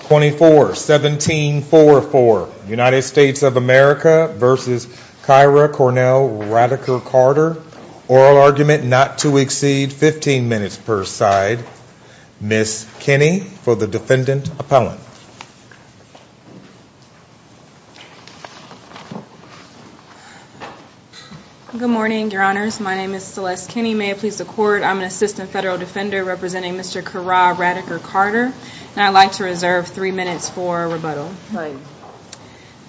24-17-4-4 United States of America v. Kyrrah Cornell RadakerCarter Oral argument not to exceed 15 minutes per side Ms. Kinney for the defendant appellant Good morning your honors, my name is Celeste Kinney May it please the court, I'm an assistant federal defender representing Mr. Kyrrah RadakerCarter And I'd like to reserve three minutes for rebuttal Right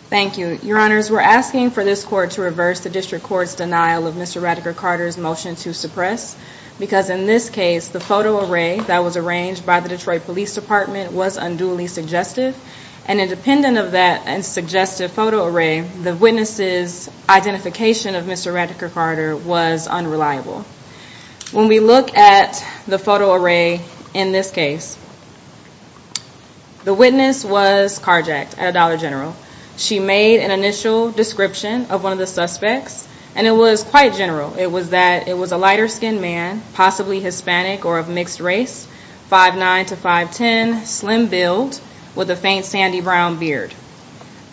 Thank you Your honors, we're asking for this court to reverse the district court's denial of Mr. RadakerCarter's motion to suppress Because in this case, the photo array that was arranged by the Detroit Police Department was unduly suggested And independent of that suggested photo array, the witness's identification of Mr. RadakerCarter was unreliable When we look at the photo array in this case, the witness was carjacked at a Dollar General She made an initial description of one of the suspects And it was quite general, it was that it was a lighter skinned man, possibly Hispanic or of mixed race 5'9 to 5'10, slim build, with a faint sandy brown beard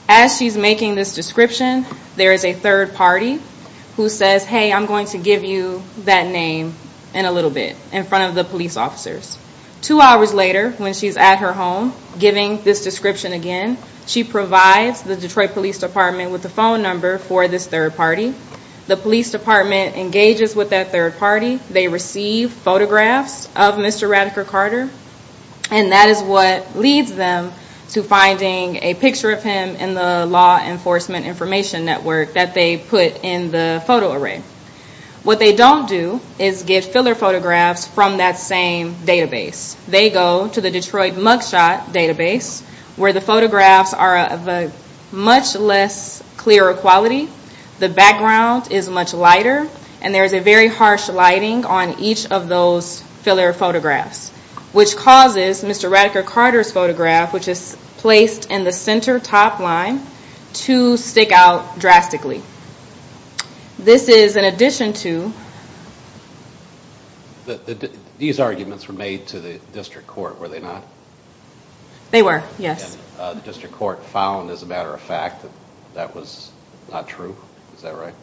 As she's making this description, there is a third party who says Hey, I'm going to give you that name in a little bit, in front of the police officers Two hours later, when she's at her home, giving this description again She provides the Detroit Police Department with the phone number for this third party The police department engages with that third party They receive photographs of Mr. RadakerCarter And that is what leads them to finding a picture of him in the law enforcement information network That they put in the photo array What they don't do is get filler photographs from that same database They go to the Detroit Mugshot database Where the photographs are of a much less clearer quality The background is much lighter And there is a very harsh lighting on each of those filler photographs Which causes Mr. RadakerCarter's photograph, which is placed in the center top line To stick out drastically This is in addition to These arguments were made to the district court, were they not? They were, yes The district court found, as a matter of fact, that that was not true, is that right?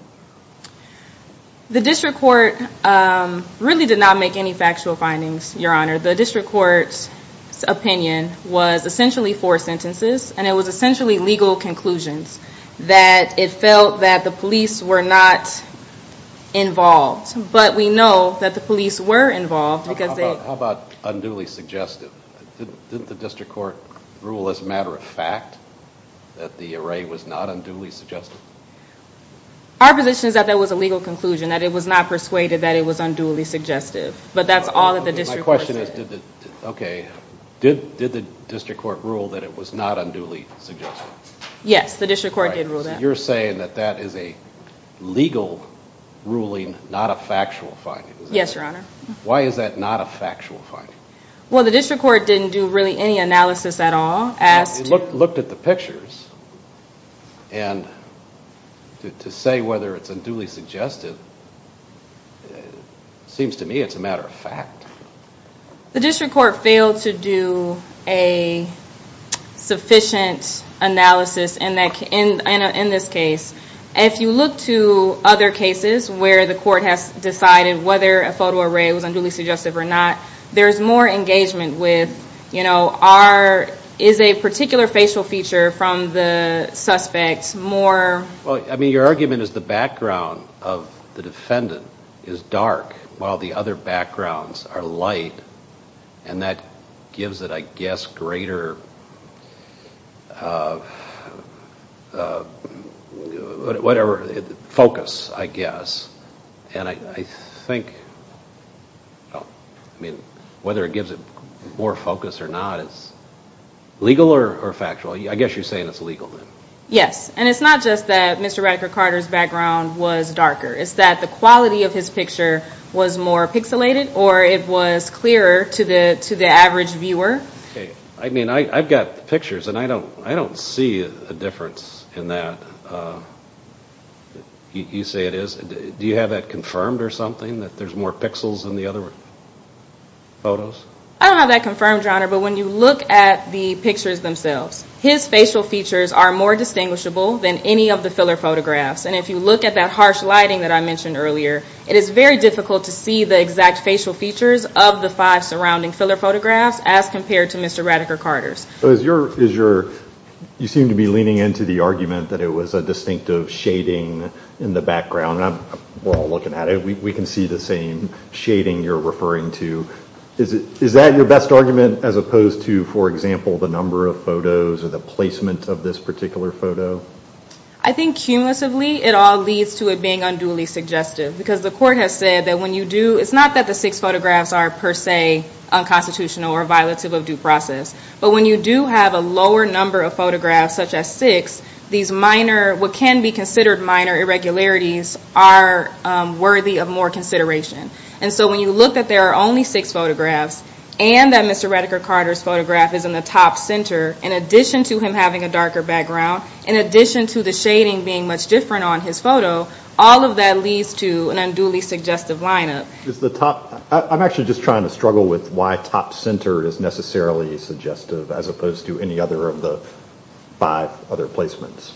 The district court really did not make any factual findings, your honor The district court's opinion was essentially four sentences And it was essentially legal conclusions That it felt that the police were not involved But we know that the police were involved How about unduly suggestive? Didn't the district court rule as a matter of fact that the array was not unduly suggestive? Our position is that that was a legal conclusion That it was not persuaded that it was unduly suggestive But that's all that the district court said Did the district court rule that it was not unduly suggestive? Yes, the district court did rule that You're saying that that is a legal ruling, not a factual finding Yes, your honor Why is that not a factual finding? Well, the district court didn't do really any analysis at all It looked at the pictures And to say whether it's unduly suggestive Seems to me it's a matter of fact The district court failed to do a sufficient analysis in this case If you look to other cases where the court has decided whether a photo array was unduly suggestive or not There's more engagement with Is a particular facial feature from the suspect more... Your argument is the background of the defendant is dark While the other backgrounds are light And that gives it, I guess, greater focus, I guess And I think... I mean, whether it gives it more focus or not Legal or factual? I guess you're saying it's legal then Yes, and it's not just that Mr. Radcliffe Carter's background was darker It's that the quality of his picture was more pixelated Or it was clearer to the average viewer I mean, I've got the pictures And I don't see a difference in that You say it is Do you have that confirmed or something? That there's more pixels in the other photos? I don't have that confirmed, Your Honor But when you look at the pictures themselves His facial features are more distinguishable than any of the filler photographs And if you look at that harsh lighting that I mentioned earlier It is very difficult to see the exact facial features of the five surrounding filler photographs As compared to Mr. Radcliffe Carter's You seem to be leaning into the argument that it was a distinctive shading in the background We're all looking at it We can see the same shading you're referring to Is that your best argument? As opposed to, for example, the number of photos Or the placement of this particular photo? I think cumulatively it all leads to it being unduly suggestive Because the court has said that when you do... It's not that the six photographs are per se unconstitutional or violative of due process But when you do have a lower number of photographs, such as six These minor, what can be considered minor irregularities Are worthy of more consideration And so when you look that there are only six photographs And that Mr. Radcliffe Carter's photograph is in the top center In addition to him having a darker background In addition to the shading being much different on his photo All of that leads to an unduly suggestive lineup I'm actually just trying to struggle with why top center is necessarily suggestive As opposed to any other of the five other placements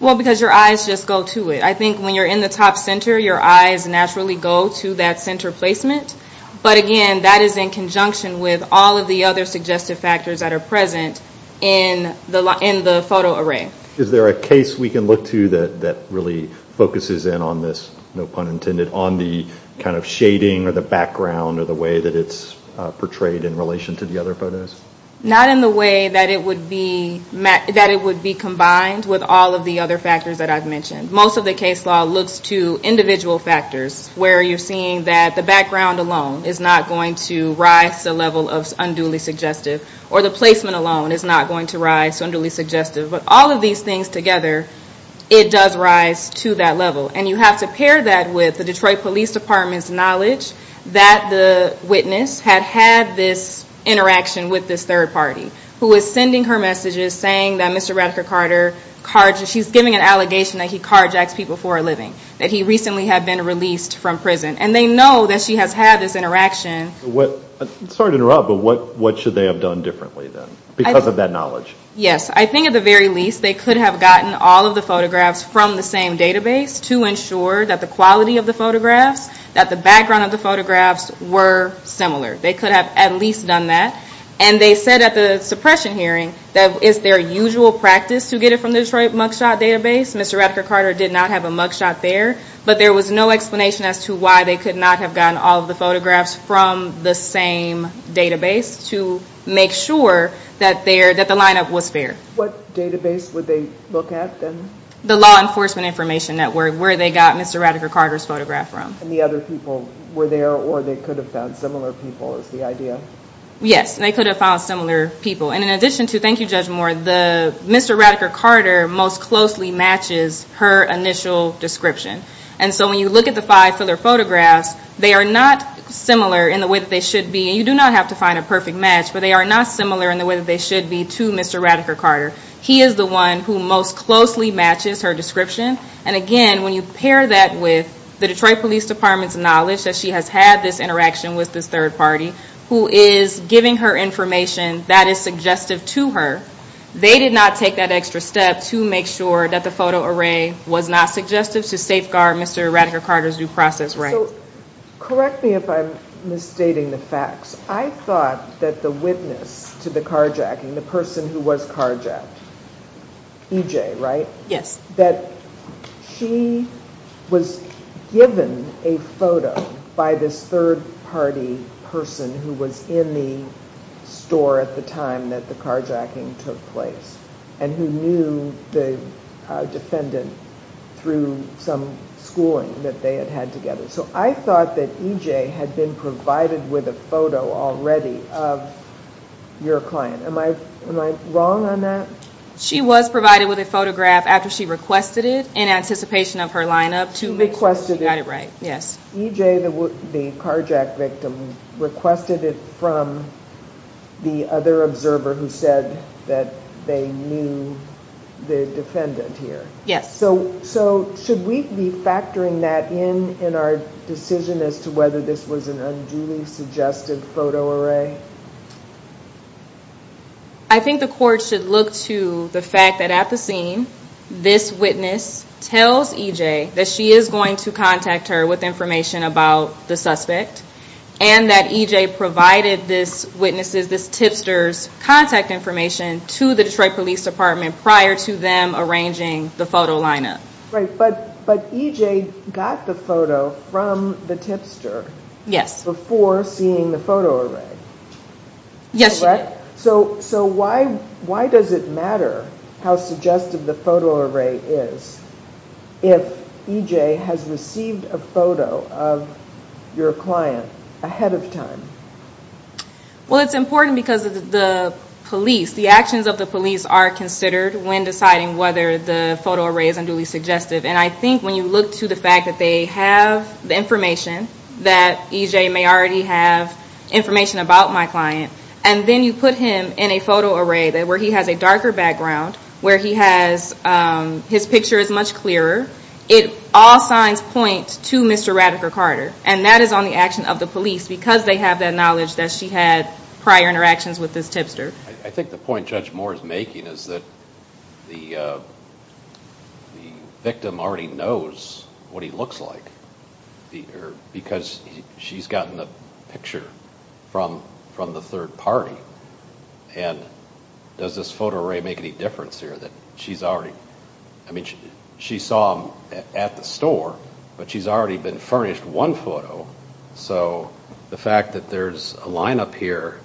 Well, because your eyes just go to it I think when you're in the top center Your eyes naturally go to that center placement But again, that is in conjunction with all of the other suggestive factors that are present In the photo array Is there a case we can look to that really focuses in on this No pun intended, on the kind of shading or the background Or the way that it's portrayed in relation to the other photos Not in the way that it would be combined with all of the other factors that I've mentioned Most of the case law looks to individual factors Where you're seeing that the background alone Is not going to rise to the level of unduly suggestive Or the placement alone is not going to rise to unduly suggestive But all of these things together It does rise to that level And you have to pair that with the Detroit Police Department's knowledge That the witness had had this interaction with this third party Who is sending her messages Saying that Mr. Radcliffe Carter She's giving an allegation that he carjacks people for a living That he recently had been released from prison And they know that she has had this interaction Sorry to interrupt, but what should they have done differently then Because of that knowledge Yes, I think at the very least They could have gotten all of the photographs from the same database To ensure that the quality of the photographs That the background of the photographs were similar They could have at least done that And they said at the suppression hearing That it's their usual practice To get it from the Detroit mugshot database Mr. Radcliffe Carter did not have a mugshot there But there was no explanation as to why They could not have gotten all of the photographs From the same database To make sure that the lineup was fair What database would they look at then? The law enforcement information network Where they got Mr. Radcliffe Carter's photograph from And the other people were there Or they could have found similar people is the idea Yes, they could have found similar people And in addition to, thank you Judge Moore Mr. Radcliffe Carter most closely matches her initial description And so when you look at the five filler photographs They are not similar in the way that they should be And you do not have to find a perfect match But they are not similar in the way that they should be To Mr. Radcliffe Carter He is the one who most closely matches her description And again, when you pair that with The Detroit Police Department's knowledge That she has had this interaction with this third party Who is giving her information that is suggestive to her They did not take that extra step To make sure that the photo array was not suggestive To safeguard Mr. Radcliffe Carter's due process rights Correct me if I'm misstating the facts I thought that the witness to the carjacking The person who was carjacked EJ, right? That she was given a photo By this third party person Who was in the store at the time that the carjacking took place And who knew the defendant Through some schooling that they had had together So I thought that EJ had been provided with a photo already Of your client Am I wrong on that? She was provided with a photograph after she requested it In anticipation of her lineup To make sure she got it right EJ, the carjack victim Requested it from the other observer Who said that they knew the defendant here Yes So should we be factoring that in In our decision as to whether this was an unduly suggestive photo array? I think the court should look to the fact that at the scene This witness tells EJ That she is going to contact her with information about the suspect And that EJ provided this witness, this tipster's Contact information to the Detroit Police Department Prior to them arranging the photo lineup But EJ got the photo from the tipster Before seeing the photo array Yes she did So why does it matter How suggestive the photo array is If EJ has received a photo of your client Ahead of time? Well it's important because the police The actions of the police are considered When deciding whether the photo array is unduly suggestive And I think when you look to the fact that they have the information That EJ may already have information about my client And then you put him in a photo array Where he has a darker background Where his picture is much clearer It all signs point to Mr. Radiker-Carter And that is on the action of the police Because they have that knowledge That she had prior interactions with this tipster I think the point Judge Moore is making is that The victim already knows what he looks like Because she's gotten a picture from the third party And does this photo array make any difference here She saw him at the store But she's already been furnished one photo So the fact that there's a line up here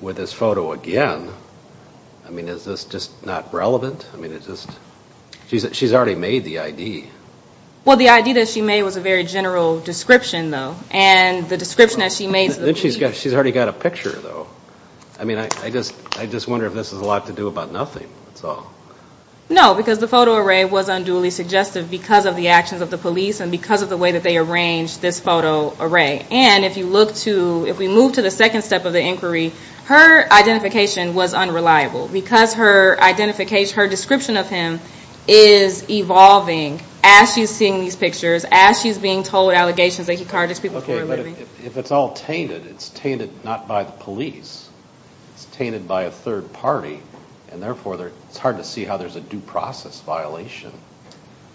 With this photo again I mean is this just not relevant? She's already made the ID Well the ID that she made was a very general description though And the description that she made She's already got a picture though I mean I just wonder if this has a lot to do about nothing No because the photo array was unduly suggestive Because of the actions of the police And because of the way that they arranged this photo array And if you look to If we move to the second step of the inquiry Her identification was unreliable Because her identification Her description of him is evolving As she's seeing these pictures As she's being told allegations that he carted his people Okay but if it's all tainted It's tainted not by the police It's tainted by a third party And therefore it's hard to see how there's a due process violation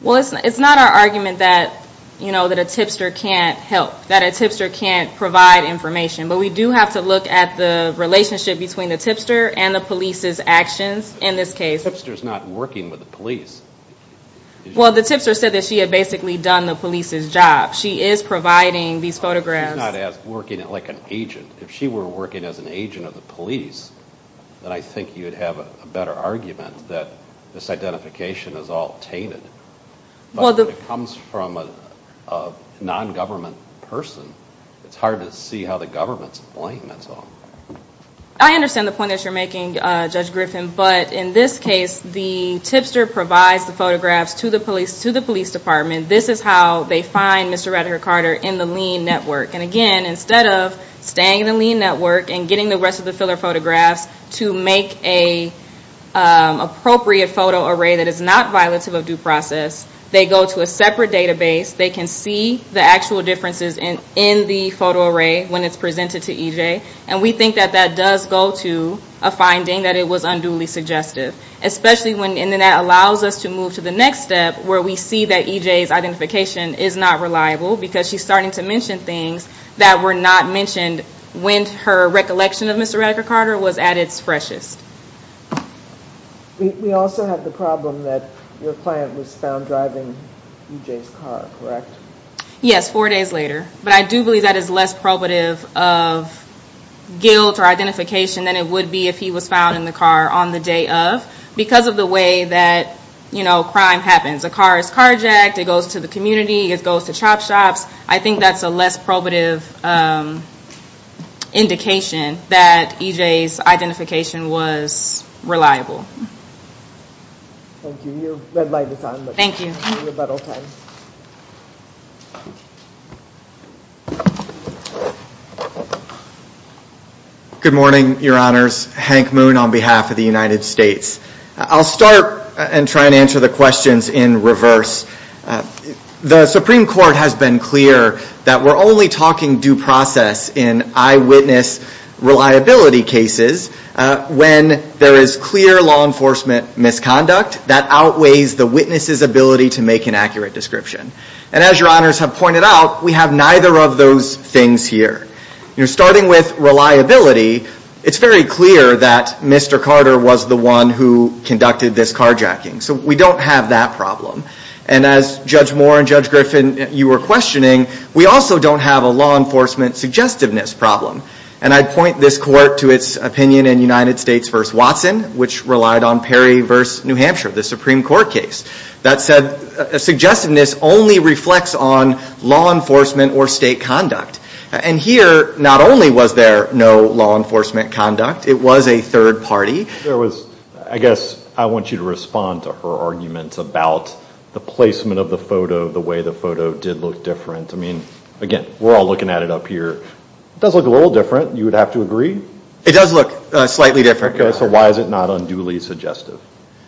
Well it's not our argument that You know that a tipster can't help That a tipster can't provide information But we do have to look at the relationship Between the tipster and the police's actions In this case The tipster's not working with the police Well the tipster said that she had basically done the police's job She is providing these photographs She's not working like an agent If she were working as an agent of the police Then I think you'd have a better argument That this identification is all tainted But when it comes from a non-government person It's hard to see how the government's to blame, that's all I understand the point that you're making, Judge Griffin But in this case The tipster provides the photographs to the police To the police department This is how they find Mr. Redhart Carter In the lean network And again, instead of staying in the lean network And getting the rest of the filler photographs To make an appropriate photo array That is not violative of due process They go to a separate database They can see the actual differences in the photo array When it's presented to EJ And we think that that does go to a finding That it was unduly suggestive And that allows us to move to the next step Where we see that EJ's identification is not reliable Because she's starting to mention things That were not mentioned When her recollection of Mr. Redhart Carter Was at its freshest We also have the problem that Your client was found driving EJ's car, correct? Yes, four days later But I do believe that is less probative of Guilt or identification Than it would be if he was found in the car On the day of Because of the way that, you know, crime happens A car is carjacked It goes to the community It goes to chop shops I think that's a less probative indication That EJ's identification was reliable Thank you Your red light is on Thank you Good morning, your honors Hank Moon on behalf of the United States I'll start and try and answer the questions in reverse The Supreme Court has been clear That we're only talking due process In eyewitness reliability cases When there is clear law enforcement misconduct That outweighs the witness's ability To make an accurate description And as your honors have pointed out We have neither of those things here You're starting with reliability It's very clear that Mr. Carter was the one Who conducted this carjacking So we don't have that problem And as Judge Moore and Judge Griffin You were questioning We also don't have a law enforcement suggestiveness problem And I'd point this court to its opinion In United States v. Watson Which relied on Perry v. New Hampshire The Supreme Court case That said, suggestiveness only reflects on Law enforcement or state conduct And here, not only was there no law enforcement conduct It was a third party There was, I guess, I want you to respond To her argument about the placement of the photo The way the photo did look different I mean, again, we're all looking at it up here It does look a little different You would have to agree? It does look slightly different So why is it not unduly suggestive?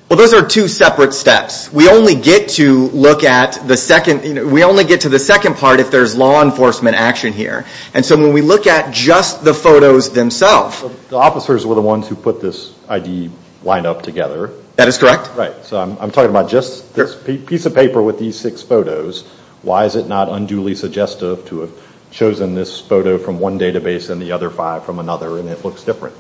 Well, those are two separate steps We only get to look at the second We only get to the second part If there's law enforcement action here And so when we look at just the photos themselves The officers were the ones Who put this ID lineup together That is correct? Right, so I'm talking about just this piece of paper With these six photos Why is it not unduly suggestive To have chosen this photo from one database And the other five from another And it looks different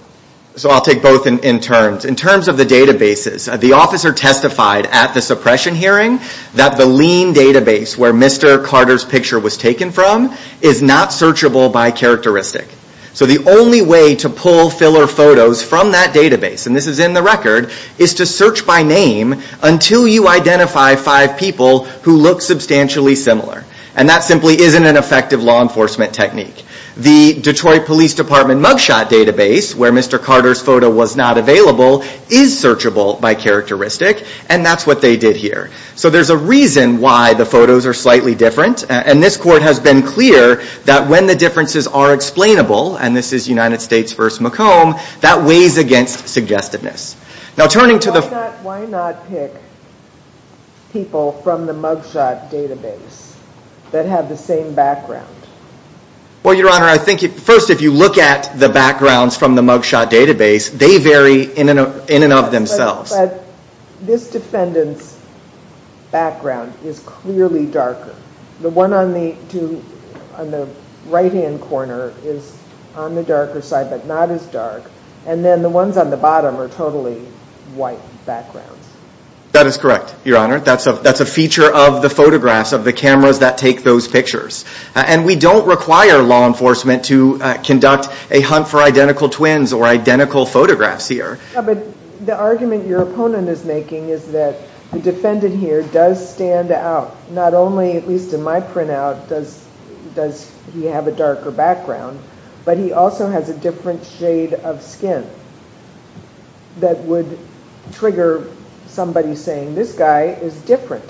So I'll take both in terms In terms of the databases The officer testified at the suppression hearing That the lean database Where Mr. Carter's picture was taken from Is not searchable by characteristic So the only way to pull filler photos From that database And this is in the record Is to search by name Until you identify five people Who look substantially similar And that simply isn't An effective law enforcement technique The Detroit Police Department mugshot database Where Mr. Carter's photo was not available Is searchable by characteristic And that's what they did here So there's a reason Why the photos are slightly different And this court has been clear That when the differences are explainable And this is United States v. McComb That weighs against suggestiveness Now turning to the... Why not pick people from the mugshot database That have the same background? Well, Your Honor, I think First, if you look at the backgrounds From the mugshot database They vary in and of themselves But this defendant's background Is clearly darker The one on the right-hand corner Is on the darker side But not as dark And then the ones on the bottom Are totally white backgrounds That is correct, Your Honor That's a feature of the photographs Of the cameras that take those pictures And we don't require law enforcement To conduct a hunt for identical twins Or identical photographs here But the argument your opponent is making Is that the defendant here Does stand out Not only, at least in my printout Does he have a darker background But he also has a different shade of skin That would trigger somebody saying This guy is different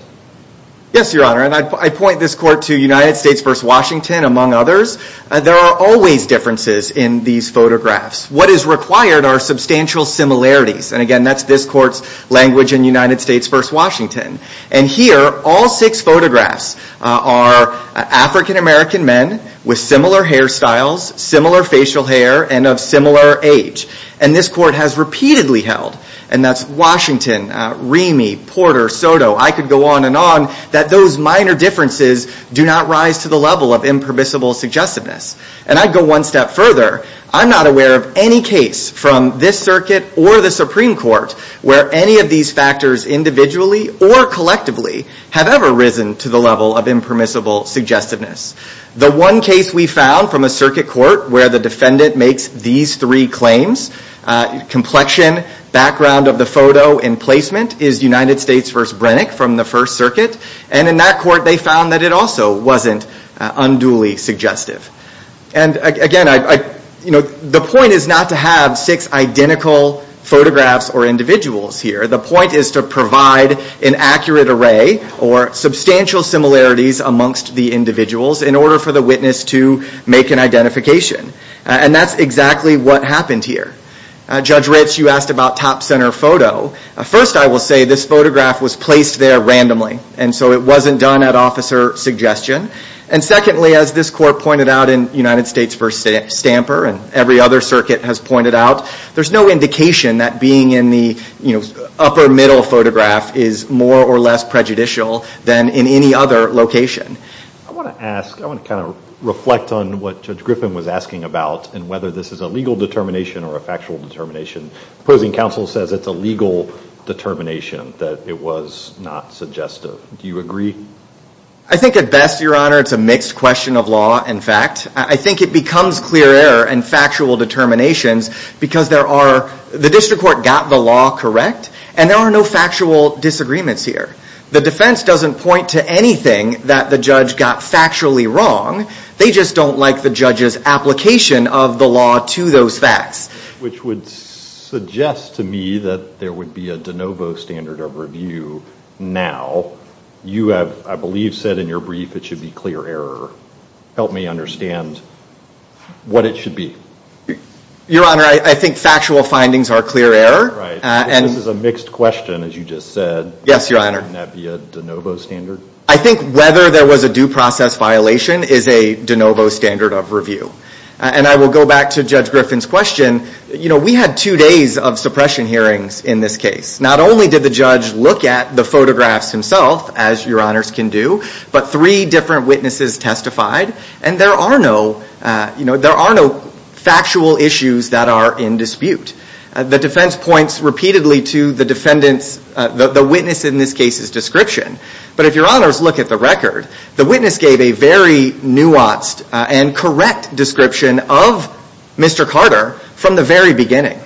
Yes, Your Honor And I point this court To United States v. Washington Among others There are always differences In these photographs What is required Are substantial similarities And again, that's this court's language In United States v. Washington And here, all six photographs Are African-American men With similar hairstyles Similar facial hair And of similar age And this court has repeatedly held And that's Washington Remy Porter Soto I could go on and on That those minor differences Do not rise to the level Of impermissible suggestiveness And I'd go one step further I'm not aware of any case From this circuit Or the Supreme Court Where any of these factors Individually or collectively Have ever risen to the level Of impermissible suggestiveness The one case we found From a circuit court Where the defendant makes These three claims Complexion Background of the photo And placement Is United States v. Brennick From the First Circuit And in that court They found that it also Wasn't unduly suggestive And again, I You know, the point is not to have Six identical photographs Or individuals here The point is to provide An accurate array Or substantial similarities Amongst the individuals In order for the witness To make an identification And that's exactly What happened here Judge Ritz, you asked About top center photo First, I will say This photograph was placed there Randomly And so it wasn't done At officer suggestion And secondly, as this court pointed out In United States v. Stamper And every other circuit Has pointed out There's no indication That being in the You know, upper middle photograph Is more or less prejudicial Than in any other location I want to ask I want to kind of reflect On what Judge Griffin Was asking about And whether this is A legal determination Or a factual determination Opposing counsel says It's a legal determination That it was not suggestive Do you agree? I think at best, your honor It's a mixed question of law And fact I think it becomes clear error In factual determinations Because there are The district court Got the law correct And there are no Factual disagreements here The defense doesn't point To anything That the judge got Factually wrong They just don't like The judge's application Of the law to those facts Which would suggest to me That there would be A de novo standard of review Now You have, I believe, said In your brief It should be clear error Help me understand What it should be Your honor, I think Factual findings are clear error Right This is a mixed question As you just said Yes, your honor Wouldn't that be a de novo standard? I think whether there was A due process violation Is a de novo standard Of review And I will go back To judge Griffin's question You know We had two days Of suppression hearings In this case Not only did the judge Look at the photographs himself As your honors can do But three different witnesses Testified And there are no You know There are no Factual issues That are in dispute The defense points Repeatedly to the defendants The witness in this case's description But if your honors Look at the record The witness gave a very Nuanced And correct description Of Mr. Carter From the very beginning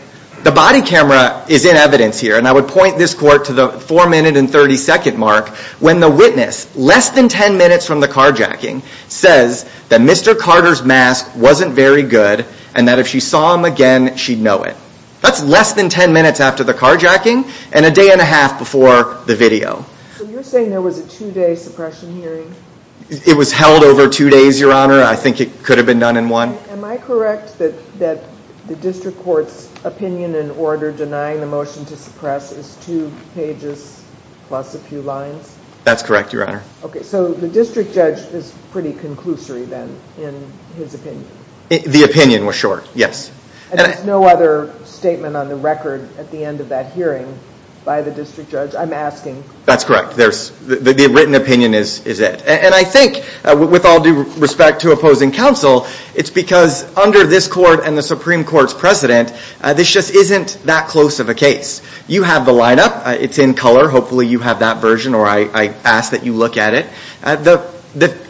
The body camera Is in evidence here And I would point this court To the four minute And thirty second mark When the witness Less than ten minutes From the carjacking Says That Mr. Carter's mask Wasn't very good And that if she saw him again She'd know it That's less than ten minutes After the carjacking And a day and a half Before the video So you're saying There was a two day suppression hearing It was held over two days Your honor I think it could have been done in one Am I correct That the district court's Opinion and order Denying the motion to suppress Is two pages Plus a few lines That's correct your honor Okay so The district judge Is pretty conclusory then In his opinion The opinion was short Yes And there's no other Statement on the record At the end of that hearing By the district judge I'm asking That's correct There's The written opinion is it And I think With all due respect To opposing counsel It's because Under this court And the supreme court's precedent This just isn't That close of a case You have the line up It's in color Hopefully you have that version Or I ask that you look at it The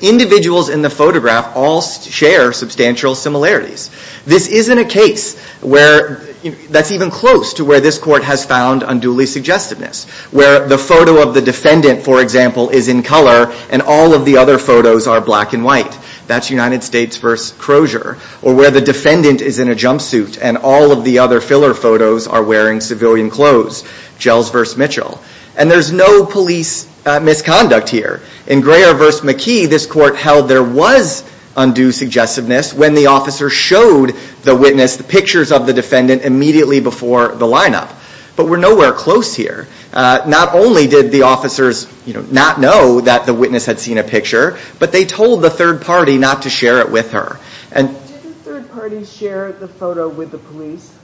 individuals in the photograph All share substantial similarities This isn't a case Where That's even close To where this court has found Unduly suggestiveness Where the photo of the defendant For example Is in color And all of the other photos Are black and white That's United States Versus Crozier Or where the defendant Is in a jumpsuit And all of the other Filler photos Are wearing civilian clothes Gels versus Mitchell And there's no police Misconduct here In Greer versus McKee This court held There was Undue suggestiveness When the officer Showed the witness The pictures of the defendant Immediately before the line up But we're nowhere close here Not only did the officers Not know that the witness Had seen a picture But they told the third party Not to share it with her And Did the third party Share the photo with the police?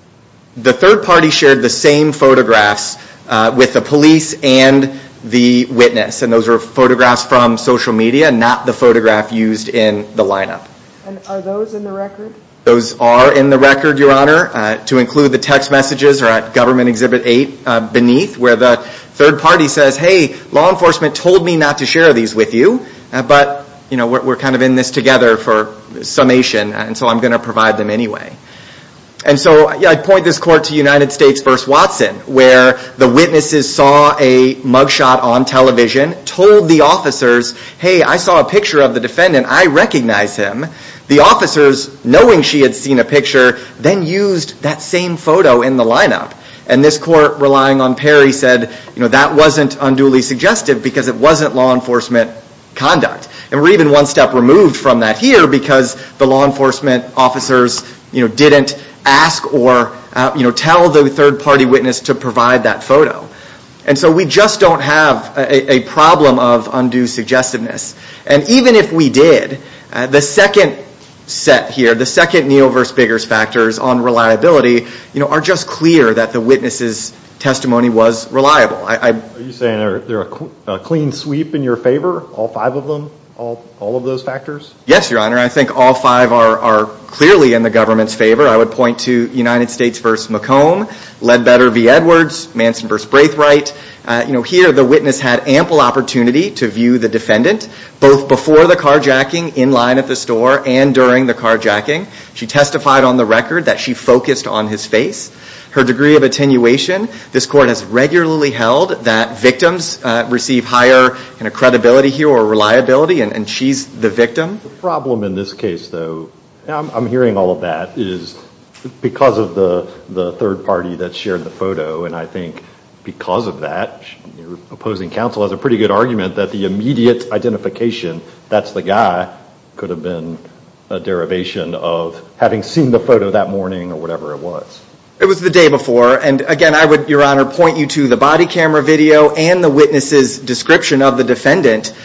The third party Shared the same photographs With the police And the witness And those were photographs From social media Not the photograph Used in the line up And are those in the record? Those are in the record Your honor To include the text messages Or at government exhibit 8 Beneath Where the third party says Hey Law enforcement told me Not to share these with you But You know We're kind of in this together For summation And so I'm going to provide them anyway And so I point this court To United States versus Watson Where The witnesses saw A mug shot on television Told the officers Hey I saw a picture of the defendant I recognize him The officers Knowing she had seen a picture Then used That same photo in the line up And this court Relying on Perry said You know That wasn't unduly suggestive Because it wasn't Law enforcement Conduct And we're even one step removed From that here Because The law enforcement Officers You know Didn't ask or You know Tell the third party witness To provide that photo And so we just don't have A problem of Undue suggestiveness And even if we did The second Set here The second Neil versus Biggers factors On reliability You know Are just clear That the witnesses Testimony was reliable I Are you saying They're a Clean sweep In your favor All five of them All All of those factors Yes your honor I think all five Are Clearly in the government's favor I would point to United States versus McComb Ledbetter v. Edwards Manson versus Braithwaite You know Here the witness Had ample opportunity To view the defendant Both before the carjacking In line at the store And during the carjacking She testified on the record That she focused on his face Her degree of attenuation This court has regularly held That victims Receive higher Credibility here Or reliability And she's the victim The problem in this case though I'm hearing all of that Is Because of the The third party That shared the photo And I think Because of that Your opposing counsel Has a pretty good argument That the immediate Identification That's the guy Could have been A derivation of Having seen the photo that morning Or whatever it was It was the day before And again I would Your honor Point you to the body camera video And the witness's Description of the defendant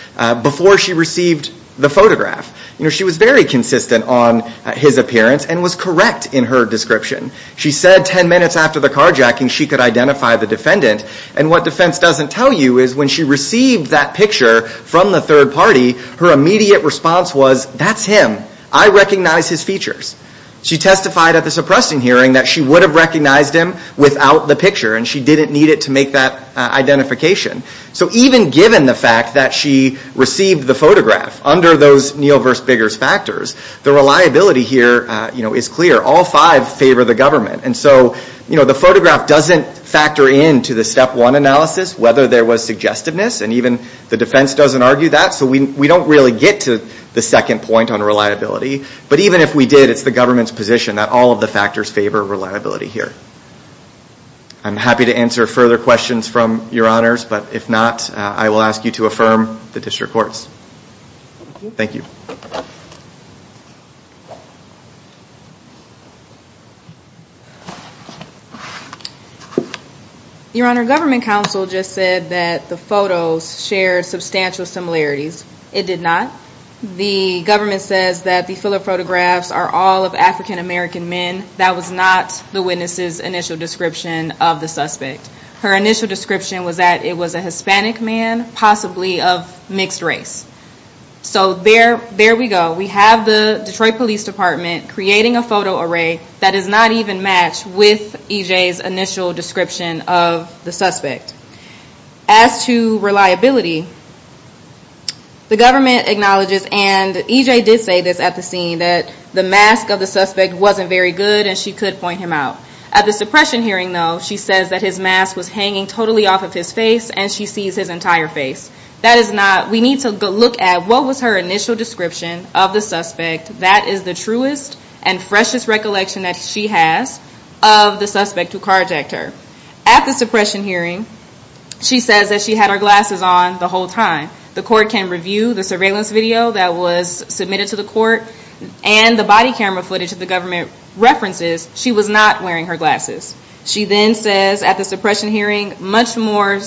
Before she received The photograph You know She was very consistent On his appearance And was correct In her description She said Ten minutes after the carjacking She could identify The defendant And what defense Doesn't tell you Is when she received That picture From the third party Her immediate response Was That's him I recognize his features She testified At the suppressing hearing That she would have Recognized him Without the picture And she didn't need it To make that Identification So even given The fact that She received The photograph Under those Neal vs. Biggers factors The reliability here Is clear All five Favor the government And so The photograph Doesn't factor in To the step one analysis Whether there was Suggestiveness And even The defense Doesn't argue that So we don't Really get to The second point On reliability But even if we did It's the government's position That all of the factors Favor reliability here I'm happy to answer Further questions From your honors But if not I will ask you To affirm The district courts Thank you Your honor Government counsel Just said that The photos Shared substantial similarities It did not The government Says that The Philip photographs Are all of African American men That was not The witnesses Initial description Of the suspect Her initial description Was that It was a Hispanic man Possibly of Mixed race So there There we go We have the Detroit police department Creating a photo array That is not even Matched with EJ's initial description Of the suspect As to Reliability The government Acknowledges And EJ did say This at the scene That the mask Of the suspect Wasn't very good And she could Point him out At the suppression hearing She says that His mask Was hanging Totally off of his face And she sees His entire face That is not We need to look at What was her Initial description Of the suspect That is the truest And freshest recollection That she has Of the suspect Who carjacked her At the suppression hearing She says that She had her glasses on The whole time The court can review The surveillance video That was submitted to the court And the body camera footage That the government References She was not Wearing her glasses She then says At the suppression hearing Much more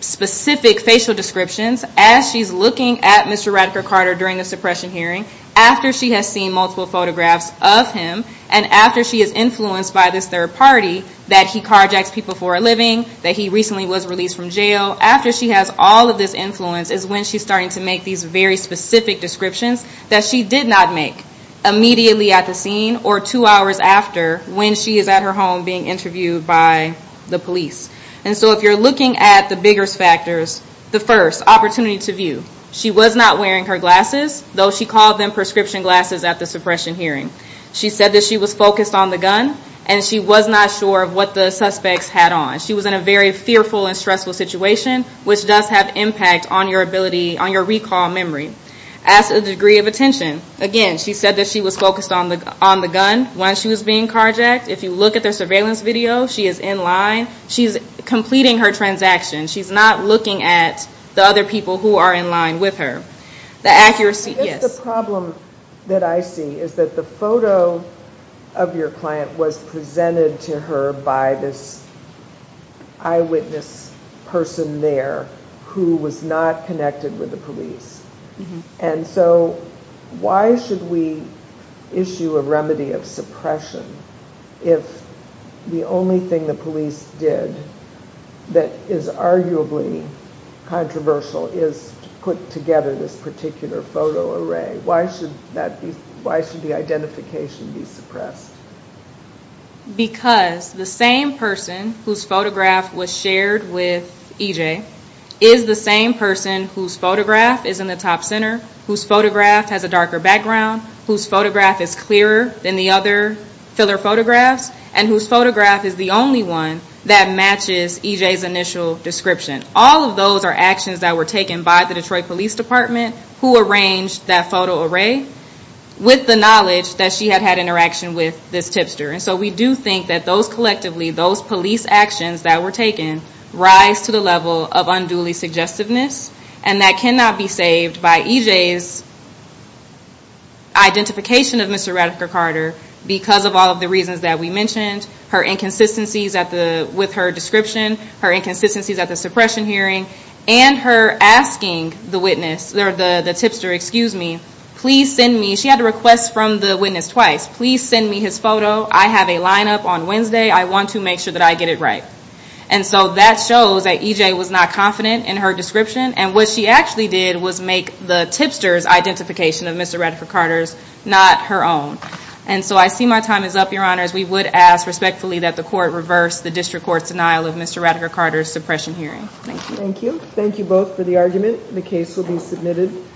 Specific Facial descriptions As she's looking At Mr. Radiker-Carter During the suppression hearing After she has seen Multiple photographs Of him And after she is influenced By this third party That he carjacks people For a living That he recently Was released from jail After she has All of this influence Is when she's starting To make these Very specific descriptions That she did not make Immediately at the scene Or two hours after When she is out At her home Being interviewed By the police And so if you're looking At the biggest factors The first Opportunity to view She was not Wearing her glasses Though she called them Prescription glasses At the suppression hearing She said that She was focused On the gun And she was not sure Of what the suspects Had on She was in a very fearful And stressful situation Which does have impact On your ability On your recall memory As a degree of attention Again She said that She was focused On the gun When she was being carjacked If you look at Their surveillance video She is in line She's completing Her transaction She's not looking At the other people Who are in line With her The accuracy Yes The problem That I see Is that the photo Of your client Was presented To her By this Eyewitness Person there Who was not Connected With the police And so Why should we Issue a remedy Of suppression If The only thing The police did That is Arguably Controversial Is To put together This particular Photo array Why should That be Why should The identification Be suppressed Because The same person Whose photograph Was shared With EJ Is the same person Whose photograph Is in the top center Whose photograph Has a darker background Whose photograph Is clearer Than the other Filler photographs And whose photograph Is the only one That matches EJ's initial Description All of those Are actions That were taken By the Detroit Police Department Who arranged That photo array With the knowledge That she had had Interaction with This tipster And so we do think That those collectively Those police actions That were taken Rise to the level Of unduly suggestiveness And that cannot Be saved By EJ's Identification Of Mr. Radcliffe Carter Because of all Of the reasons That we mentioned Her inconsistencies With her description Her inconsistencies At the suppression Hearing And her asking The witness The tipster Excuse me Please send me She had a request From the witness Twice Please send me His photo I have a lineup On Wednesday I want to make sure That I get it right And so that shows That EJ was not confident In her description And what she actually did Was make the tipster's Identification of Mr. Radcliffe Carter Her own And so I see My time is up Your honors We would ask Respectfully that the court Reverse the district Court's denial Of Mr. Radcliffe Carter's Suppression hearing Thank you Thank you both For the argument The case will be submitted Thank you